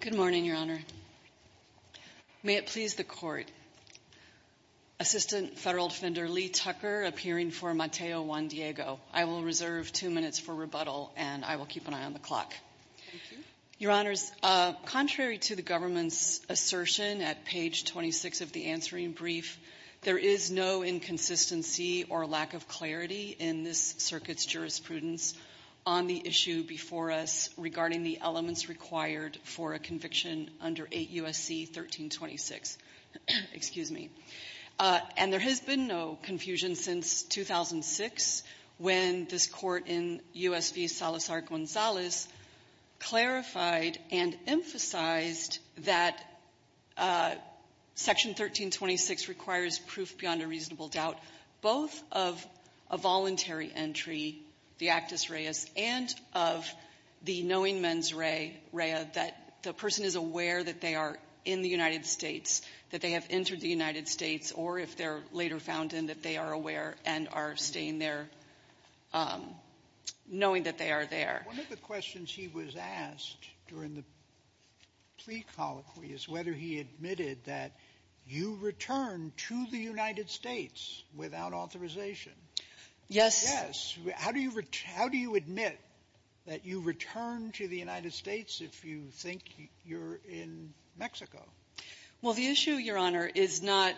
Good morning, Your Honor. May it please the Court, Assistant Federal Defender Lee Tucker appearing for Mateo Juan-Diego. I will reserve two minutes for rebuttal, and I will keep an eye on the clock. Your Honors, contrary to the government's assertion at page 26 of the answering brief, there is no inconsistency or lack of clarity in this circuit's jurisprudence on the issue before us regarding the elements required for a conviction under 8 U.S.C. 1326. Excuse me. And there has been no confusion since 2006 when this Court in U.S. v. Salazar-Gonzalez clarified and emphasized that Section 1326 requires proof beyond a reasonable doubt, both of a voluntary entry, the actus reus, and of the knowing mens rea, rea, that the person is aware that they are in the United States, that they have entered the United States, or if they're later found in, that they are aware and are staying there, knowing that they are there. Sotomayor One of the questions he was asked during the plea colloquy is whether he admitted that you return to the United States without authorization. Yes. Yes. How do you return to the United States if you think you're in Mexico? Well, the issue, Your Honor, is not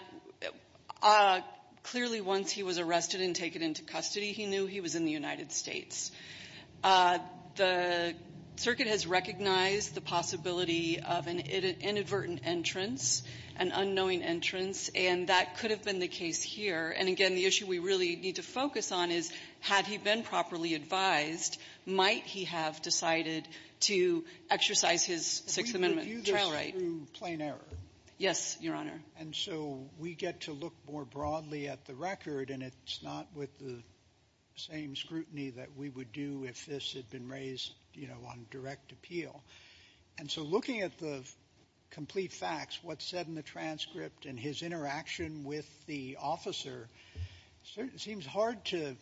— clearly, once he was arrested and taken into custody, he knew he was in the United States. The circuit has recognized the possibility of an inadvertent entrance, an unknowing entrance, and that could have been the case here. And again, the issue we really need to focus on is, had he been properly advised, might he have decided to exercise his Sixth Amendment trial right? We review this through plain error. Yes, Your Honor. And so we get to look more broadly at the record, and it's not with the same scrutiny that we would do if this had been raised, you know, on direct appeal. And so looking at the complete facts, what's said in the transcript and his interaction with the officer, it seems hard to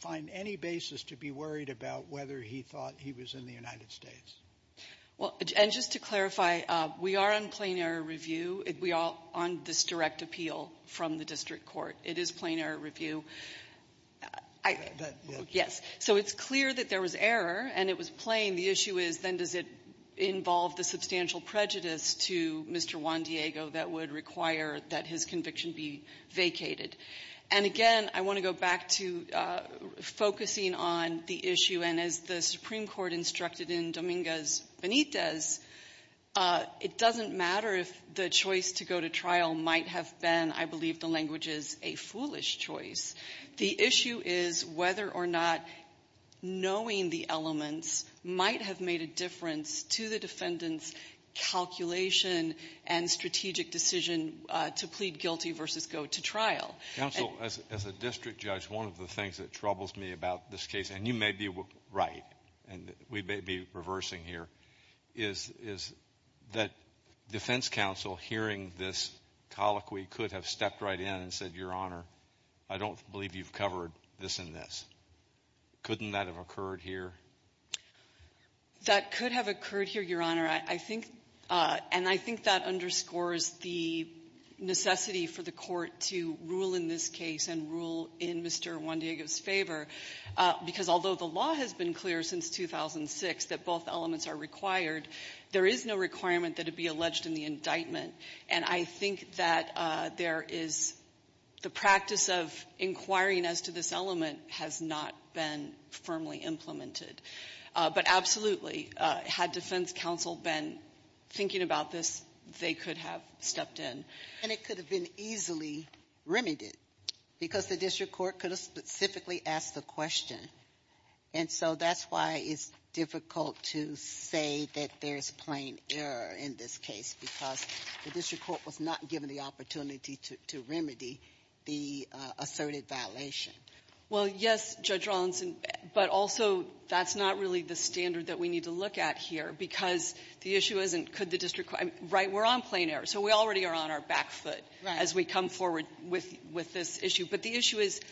find any basis to be worried about whether he thought he was in the United States. Well, and just to clarify, we are on plain error review. We are on this direct appeal from the district court. It is plain error review. Yes, so it's clear that there was error, and it was plain. The issue is, then does it involve the substantial prejudice to Mr. Juan Diego that would require that his conviction be vacated? And again, I want to go back to focusing on the issue, and as the Supreme Court instructed in Dominguez Benitez, it doesn't matter if the choice to go to trial might have been, I believe the language is, a foolish choice. The issue is whether or not knowing the elements might have made a difference to the defendant's calculation and strategic decision to plead guilty versus go to trial. Counsel, as a district judge, one of the things that troubles me about this case, and you may be right, and we may be reversing here, is that defense counsel hearing this colloquy could have stepped right in and said, Your Honor, I don't believe you've covered this and this. Couldn't that have occurred here? That could have occurred here, Your Honor. And I think that underscores the necessity for the court to rule in this case and rule in Mr. Juan Diego's favor, because although the law has been clear since 2006 that both elements are required, there is no requirement that it be alleged in the indictment. And I think that there is the practice of inquiring as to this element has not been firmly implemented. But absolutely, had defense counsel been thinking about this, they could have stepped in. And it could have been easily remedied, because the district court could have specifically asked the question. And so that's why it's difficult to say that there's plain error in this case, because the district court was not given the opportunity to remedy the asserted violation. Well, yes, Judge Rawlinson, but also that's not really the standard that we need to look at here, because the issue isn't could the district court – right, we're on plain error. So we already are on our back foot as we come forward with this issue. But the issue is –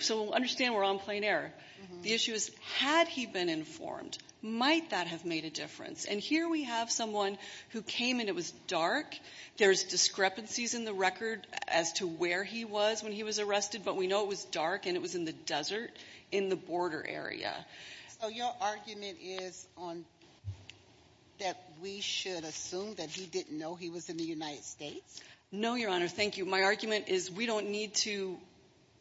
so understand we're on plain error. The issue is had he been informed, might that have made a difference? And here we have someone who came and it was dark. There's discrepancies in the record as to where he was when he was arrested, but we know it was dark and it was in the desert in the border area. So your argument is that we should assume that he didn't know he was in the United States? No, Your Honor. Thank you. My argument is we don't need to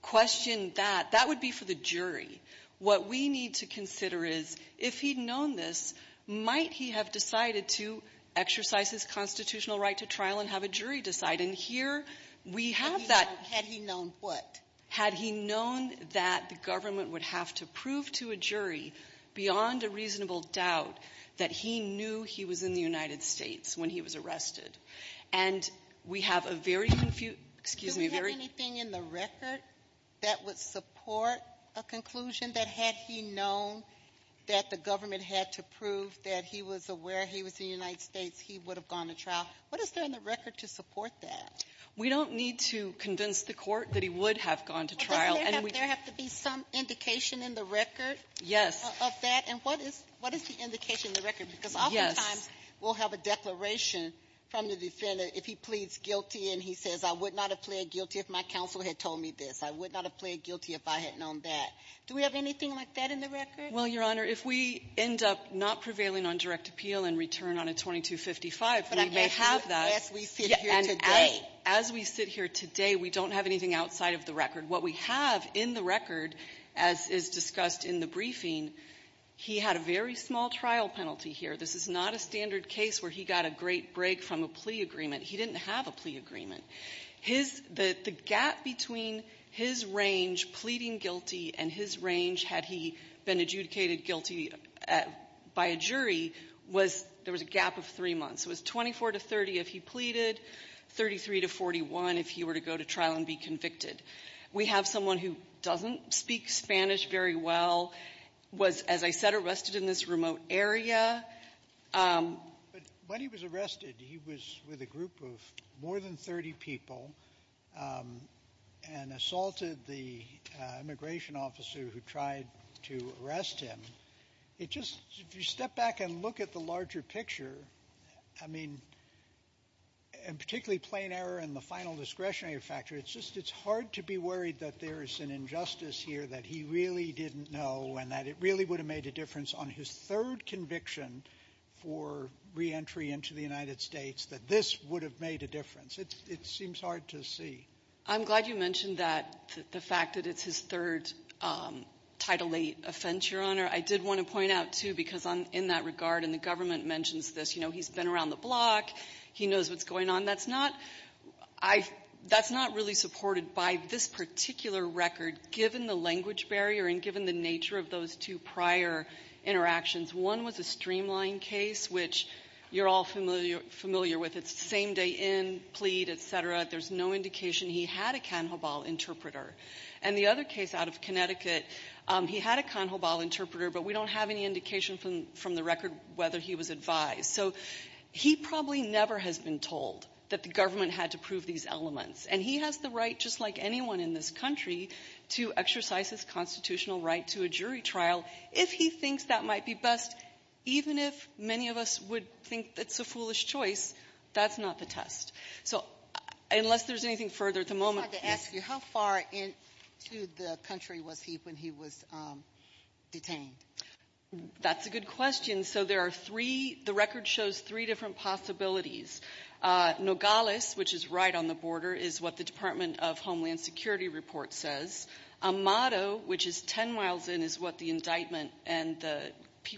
question that. That would be for the jury. What we need to consider is if he'd known this, might he have decided to exercise his constitutional right to trial and have a jury decide? And here we have that – Had he known what? Had he known that the government would have to prove to a jury, beyond a reasonable doubt, that he knew he was in the United States when he was arrested. And we have a very confused – excuse me, a very – Do we have anything in the record that would support a conclusion that had he known that the government had to prove that he was aware he was in the United States, he would have gone to trial? What is there in the record to support that? We don't need to convince the Court that he would have gone to trial. And we – But doesn't there have to be some indication in the record of that? And what is the indication in the record? Because oftentimes – We have a declaration from the defendant if he pleads guilty and he says, I would not have pled guilty if my counsel had told me this. I would not have pled guilty if I had known that. Do we have anything like that in the record? Well, Your Honor, if we end up not prevailing on direct appeal and return on a 2255, we may have that. But as we sit here today – And as we sit here today, we don't have anything outside of the record. What we have in the record, as is discussed in the briefing, he had a very small trial penalty here. This is not a standard case where he got a great break from a plea agreement. He didn't have a plea agreement. The gap between his range pleading guilty and his range had he been adjudicated guilty by a jury was – there was a gap of three months. It was 24 to 30 if he pleaded, 33 to 41 if he were to go to trial and be convicted. We have someone who doesn't speak Spanish very well, was, as I said, arrested in this remote area. But when he was arrested, he was with a group of more than 30 people and assaulted the immigration officer who tried to arrest him. It just – if you step back and look at the larger picture, I mean, and particularly plain error and the final discretionary factor, it's just – it's hard to be worried that there is an injustice here that he really didn't know and that it really would have made a difference on his third conviction for reentry into the United States, that this would have made a difference. It seems hard to see. I'm glad you mentioned that, the fact that it's his third Title VIII offense, Your Honor. I did want to point out, too, because I'm in that regard and the government mentions this, you know, he's been around the block, he knows what's going on. That's not – I – that's not really supported by this particular record, given the language barrier and given the nature of those two prior interactions. One was a streamline case, which you're all familiar with. It's the same day in, plead, et cetera. There's no indication he had a cannibal interpreter. And the other case out of Connecticut, he had a cannibal interpreter, but we don't have any indication from the record whether he was advised. So he probably never has been told that the government had to prove these elements. And he has the right, just like anyone in this country, to exercise his constitutional right to a jury trial. If he thinks that might be best, even if many of us would think it's a foolish choice, that's not the test. So unless there's anything further at the moment – I just wanted to ask you, how far into the country was he when he was detained? That's a good question. So there are three – the record shows three different possibilities. Nogales, which is right on the border, is what the Department of Homeland Security report says. Amado, which is 10 miles in, is what the indictment and the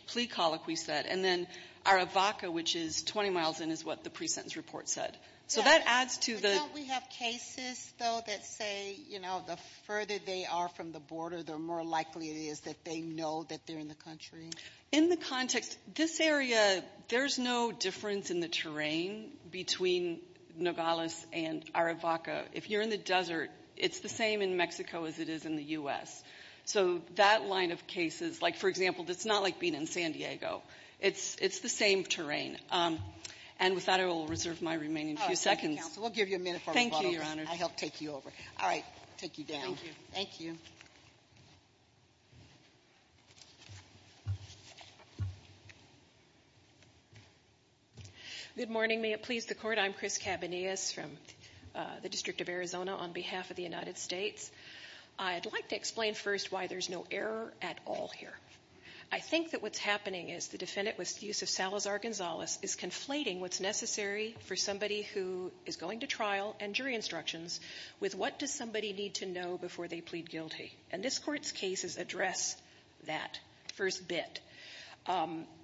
plea colloquy said. And then Aravaca, which is 20 miles in, is what the pre-sentence report said. So that adds to the – Yeah, but don't we have cases, though, that say, you know, the further they are from the border, the more likely it is that they know that they're in the country? In the context – this area, there's no difference in the terrain between Nogales and Aravaca. If you're in the desert, it's the same in Mexico as it is in the U.S. So that line of cases, like, for example, it's not like being in San Diego. It's the same terrain. And with that, I will reserve my remaining few seconds. Thank you, Counsel. We'll give you a minute for rebuttals. Thank you, Your Honor. I'll help take you over. All right. Take you down. Thank you. Thank you. Good morning. May it please the Court. I'm Chris Cabanillas from the District of Arizona on behalf of the United States. I'd like to explain first why there's no error at all here. I think that what's happening is the defendant, with the use of Salazar-Gonzalez, is conflating what's necessary for somebody who is going to trial and jury instructions with what does somebody need to know before they plead guilty. And this Court's cases address that first bit.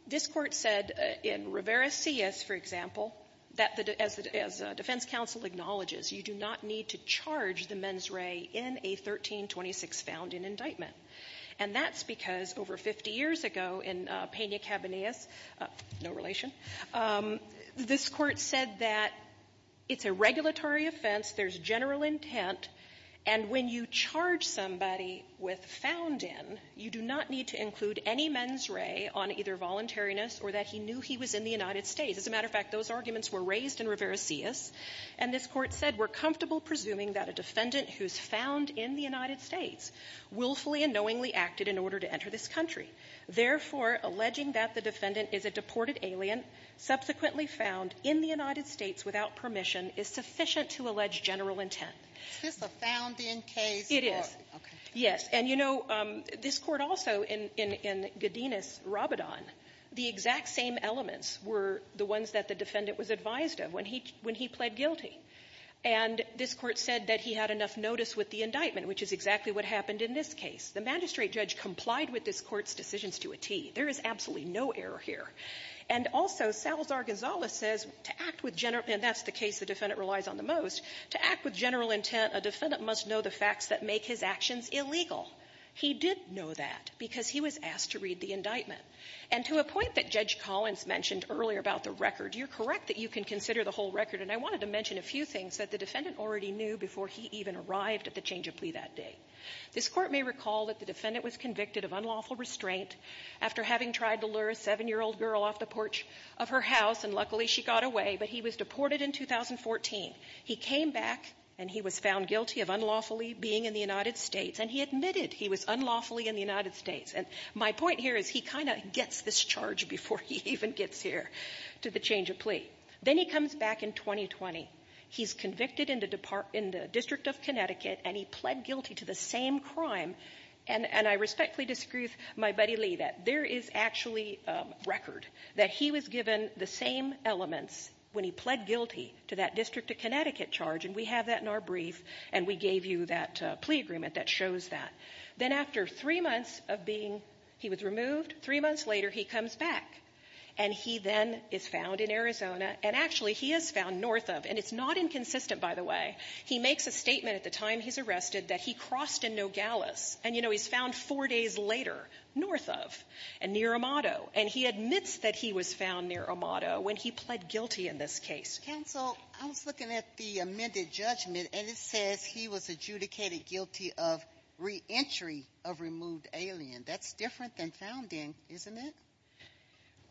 This Court said in Rivera-Cias, for example, that as the defense counsel acknowledges, you do not need to charge the mens re in a 1326 found in indictment. And that's because over 50 years ago in Pena-Cabanillas, no relation, this Court said that it's a regulatory offense, there's general intent, and when you charge somebody with found in, you do not need to include any mens re on either voluntariness or that he knew he was in the United States. As a matter of fact, those arguments were raised in Rivera-Cias, and this Court said we're comfortable presuming that a defendant who's found in the United States willfully and knowingly acted in order to enter this country. Therefore, alleging that the defendant is a deported alien subsequently found in the United States without permission is sufficient to allege general intent. It's just a found-in case. It is. Okay. Yes. And, you know, this Court also in Gadinus-Rabadon, the exact same elements were the ones that the defendant was advised of when he pled guilty. And this Court said that he had enough notice with the indictment, which is exactly what happened in this case. The magistrate judge complied with this Court's decisions to a T. There is absolutely no error here. And also Salazar-Gonzalez says, to act with general intent, and that's the case the defendant relies on the most, to act with general intent, a defendant must know the facts that make his actions illegal. He did know that because he was asked to read the indictment. And to a point that Judge Collins mentioned earlier about the record, you're correct that you can consider the whole record. And I wanted to mention a few things that the defendant already knew before he even arrived at the change of plea that day. This Court may recall that the defendant was convicted of unlawful restraint after having tried to lure a 7-year-old girl off the porch of her house, and luckily, she got away. But he was deported in 2014. He came back, and he was found guilty of unlawfully being in the United States. And he admitted he was unlawfully in the United States. And my point here is he kind of gets this charge before he even gets here to the change of plea. Then he comes back in 2020. He's convicted in the District of Connecticut, and he pled guilty to the same crime. And I respectfully disagree with my buddy Lee that there is actually a record that he was given the same elements when he pled guilty to that District of Connecticut charge. And we have that in our brief, and we gave you that plea agreement that shows that. Then after three months of being he was removed, three months later, he comes back. And he then is found in Arizona. And actually, he is found north of. And it's not inconsistent, by the way. He makes a statement at the time he's arrested that he crossed in Nogales. And, you know, he's found four days later north of and near Amato. And he admits that he was found near Amato when he pled guilty in this case. Counsel, I was looking at the amended judgment, and it says he was adjudicated guilty of reentry of removed alien. That's different than found in, isn't it?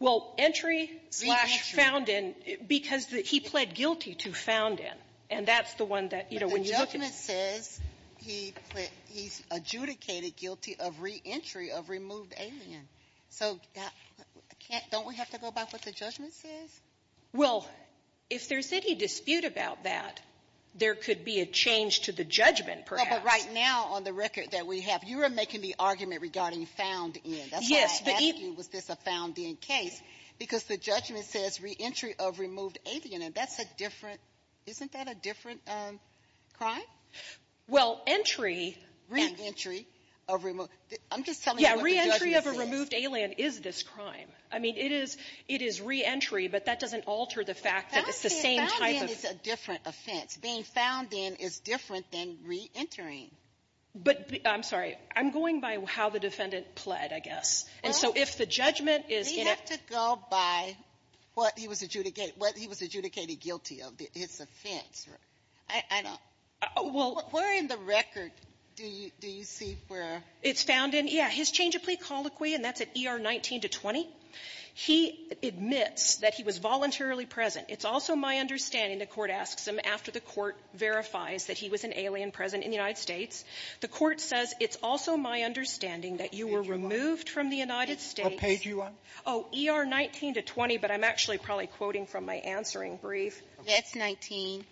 Well, entry slash found in because he pled guilty to found in. And that's the one that, you know, when you look at it. But the judgment says he's adjudicated guilty of reentry of removed alien. So don't we have to go by what the judgment says? Well, if there's any dispute about that, there could be a change to the judgment, perhaps. But right now, on the record that we have, you are making the argument regarding found in. That's why I'm asking, was this a found in case? Because the judgment says reentry of removed alien. And that's a different. Isn't that a different crime? Well, entry. Reentry of removed. I'm just telling you what the judgment says. Yeah, reentry of a removed alien is this crime. I mean, it is. It is reentry, but that doesn't alter the fact that it's the same type of. Found in is a different offense. Being found in is different than reentering. But I'm sorry, I'm going by how the defendant pled, I guess. And so if the judgment is. We have to go by what he was adjudicated, what he was adjudicated guilty of. It's offense, right? I don't. Well. Where in the record do you see where. It's found in, yeah, his change of plea colloquy, and that's at ER 19 to 20. He admits that he was voluntarily present. It's also my understanding, the Court asks him after the Court verifies that he was an alien present in the United States, the Court says it's also my understanding that you were removed from the United States. Page one. Oh, ER 19 to 20, but I'm actually probably quoting from my answering brief. That's 19.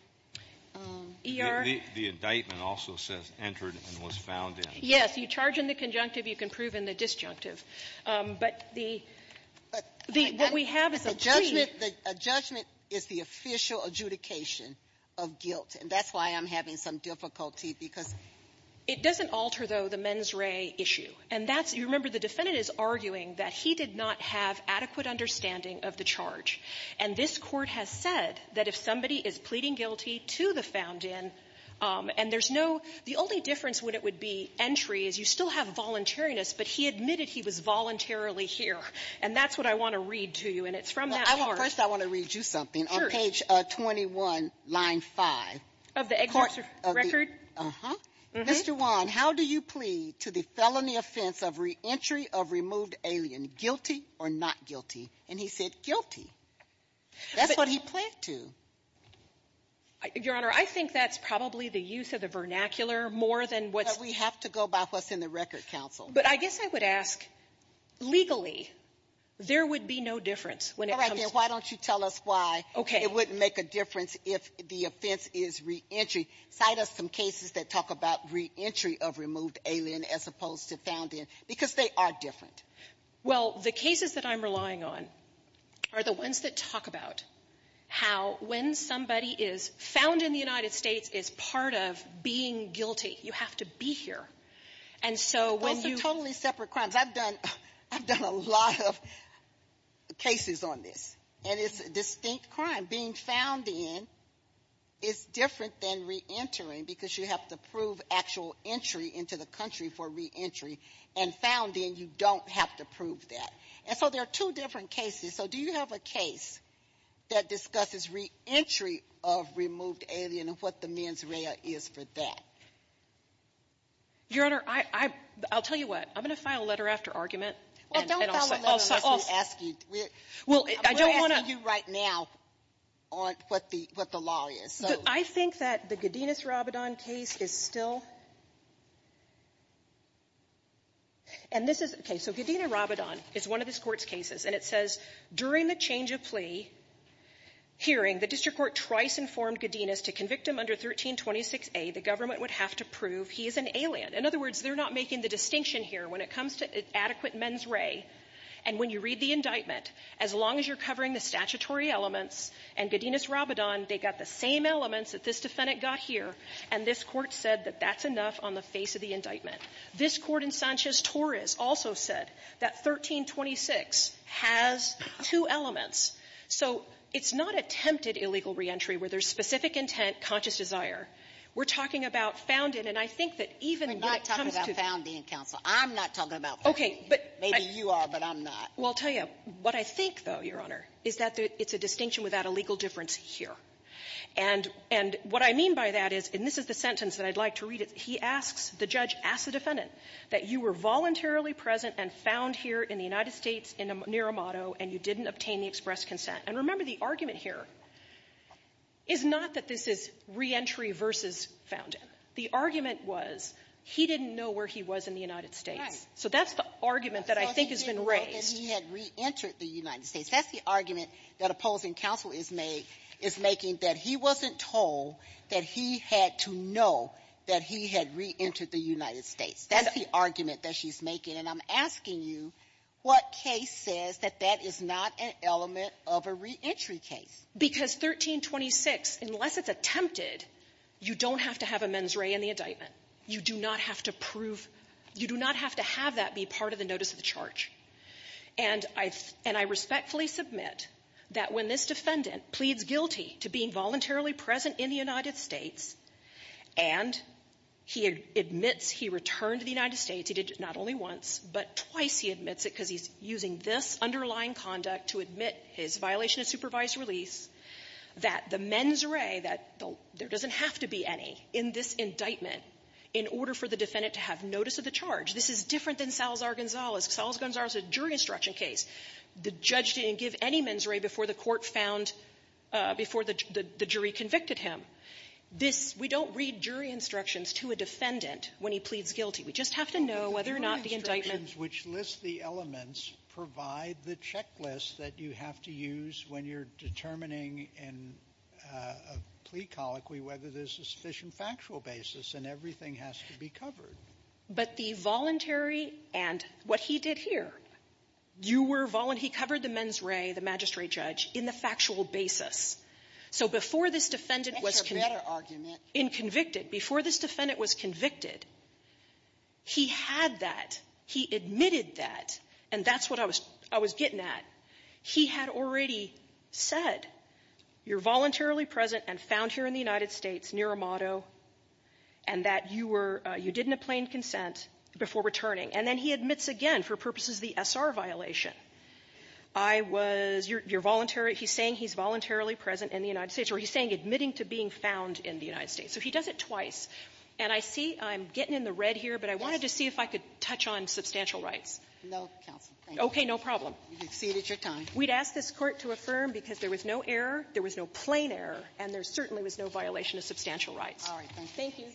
ER. The indictment also says entered and was found in. Yes. You charge in the conjunctive, you can prove in the disjunctive. But the — But the — What we have is a plea. But the judgment is the official adjudication of guilt, and that's why I'm having some difficulty because. It doesn't alter, though, the mens re issue. And that's — you remember, the defendant is arguing that he did not have adequate understanding of the charge. And this Court has said that if somebody is pleading guilty to the found in, and there's no — the only difference when it would be entry is you still have voluntariness, but he admitted he was voluntarily here. And that's what I want to read to you, and it's from that part. Well, first I want to read you something. Sure. On page 21, line 5. Of the excerpt record? Uh-huh. Mr. Wong, how do you plead to the felony offense of reentry of removed alien, guilty or not guilty? And he said guilty. That's what he pled to. Your Honor, I think that's probably the use of the vernacular more than what's — But we have to go by what's in the record, counsel. But I guess I would ask, legally, there would be no difference when it comes to — Why don't you tell us why it wouldn't make a difference if the offense is reentry. Cite us some cases that talk about reentry of removed alien as opposed to found in, because they are different. Well, the cases that I'm relying on are the ones that talk about how when somebody is found in the United States as part of being guilty, you have to be here. And so when you — Those are totally separate crimes. I've done — I've done a lot of cases on this, and it's a distinct crime. Being found in is different than reentering, because you have to prove actual entry into the country for reentry. And found in, you don't have to prove that. And so there are two different cases. So do you have a case that discusses reentry of removed alien and what the mens rea is for that? Your Honor, I — I'll tell you what. I'm going to file a letter after argument, and I'll — Well, don't file a letter unless we ask you. Well, I don't want to — I'll tell you right now on what the — what the law is. So — But I think that the Godinez-Rabadon case is still — and this is — okay. So Godinez-Rabadon is one of this Court's cases. And it says, during the change-of-plea hearing, the district court twice informed Godinez to convict him under 1326a. The government would have to prove he is an alien. In other words, they're not making the distinction here. When it comes to adequate mens rea, and when you read the indictment, as long as you're looking at Godinez's statutory elements and Godinez-Rabadon, they got the same elements that this Defendant got here, and this Court said that that's enough on the face of the indictment. This Court in Sanchez-Torres also said that 1326 has two elements. So it's not attempted illegal reentry where there's specific intent, conscious desire. We're talking about found in. And I think that even when it comes to — We're not talking about found in, counsel. I'm not talking about found in. Okay, but — Maybe you are, but I'm not. Well, I'll tell you, what I think, though, Your Honor, is that it's a distinction without a legal difference here. And what I mean by that is, and this is the sentence that I'd like to read it. He asks — the judge asks the Defendant that you were voluntarily present and found here in the United States near Amado, and you didn't obtain the express consent. And remember, the argument here is not that this is reentry versus found in. The argument was he didn't know where he was in the United States. So that's the argument that I think has been raised. He had reentered the United States. That's the argument that opposing counsel is making, is making that he wasn't told that he had to know that he had reentered the United States. That's the argument that she's making. And I'm asking you, what case says that that is not an element of a reentry case? Because 1326, unless it's attempted, you don't have to have a mens rea in the indictment. You do not have to prove — you do not have to have that be part of the notice of the charge. And I — and I respectfully submit that when this Defendant pleads guilty to being voluntarily present in the United States, and he admits he returned to the United States, he did not only once, but twice he admits it because he's using this underlying conduct to admit his violation of supervised release, that the mens rea, that there doesn't have to be any in this indictment in order for the Defendant to have notice of the charge. This is different than Salazar-Gonzalez. Salazar-Gonzalez is a jury instruction case. The judge didn't give any mens rea before the court found — before the jury convicted him. This — we don't read jury instructions to a Defendant when he pleads guilty. We just have to know whether or not the indictment — Sotomayor, which lists the elements provide the checklist that you have to use when you're determining in a plea colloquy whether there's a sufficient factual basis, and everything has to be covered. But the voluntary and what he did here, you were — he covered the mens rea, the magistrate judge, in the factual basis. So before this Defendant was — That's a better argument. In convicted. Before this Defendant was convicted, he had that. He admitted that. And that's what I was — I was getting at. He had already said, you're voluntarily present and found here in the United States near Amado, and that you were — you didn't obtain consent before returning. And then he admits again for purposes of the S.R. violation. I was — you're voluntary. He's saying he's voluntarily present in the United States. Or he's saying admitting to being found in the United States. So he does it twice. And I see I'm getting in the red here, but I wanted to see if I could touch on substantial rights. No, counsel. Okay. No problem. You've exceeded your time. We'd ask this Court to affirm, because there was no error, there was no plain error, and there certainly was no violation of substantial rights. All right. Thank you.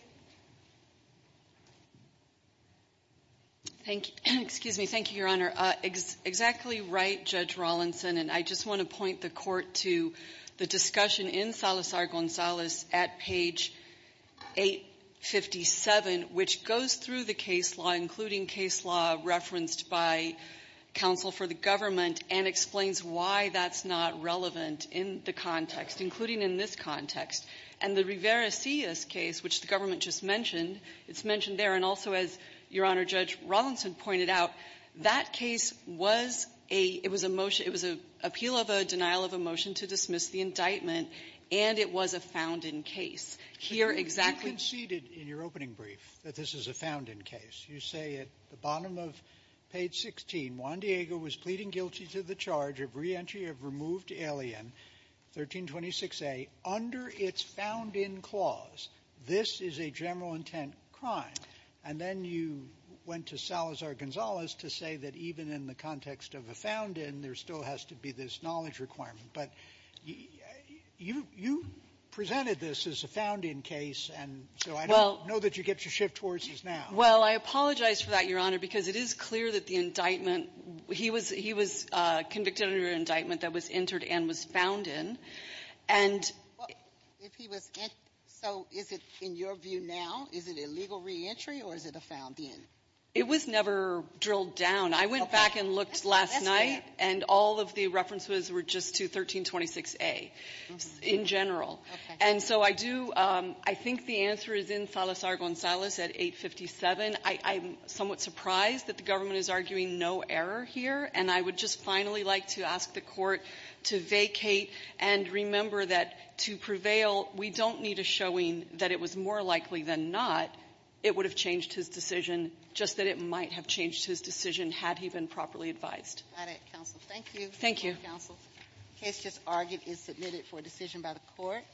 Thank you. Excuse me. Thank you, Your Honor. Exactly right, Judge Rawlinson. And I just want to point the Court to the discussion in Salazar-Gonzalez at page 857, which goes through the case law, including case law referenced by counsel for the government, and explains why that's not relevant in the context, including in this context. And the Rivera-Cias case, which the government just mentioned, it's mentioned there. And also, as Your Honor, Judge Rawlinson pointed out, that case was a — it was a motion — it was an appeal of a denial of a motion to dismiss the indictment, and it was a found-in case. Here, exactly — You conceded in your opening brief that this is a found-in case. You say at the bottom of page 16, Juan Diego was pleading guilty to the charge of reentry of removed alien, 1326A, under its found-in clause. This is a general-intent crime. And then you went to Salazar-Gonzalez to say that even in the context of a found-in, there still has to be this knowledge requirement. But you presented this as a found-in case, and so I don't know that you get your shift towards this now. Well, I apologize for that, Your Honor, because it is clear that the indictment he was — he was convicted under an indictment that was entered and was found in. And — Well, if he was — so is it, in your view now, is it a legal reentry or is it a found-in? It was never drilled down. I went back and looked last night, and all of the references were just to 1326A in general. And so I do — I think the answer is in Salazar-Gonzalez at 857. I'm somewhat surprised that the government is arguing no error here. And I would just finally like to ask the Court to vacate and remember that to prevail, we don't need a showing that it was more likely than not it would have changed his decision, just that it might have changed his decision had he been properly advised. Thank you. Thank you. The case just argued is submitted for decision by the Court.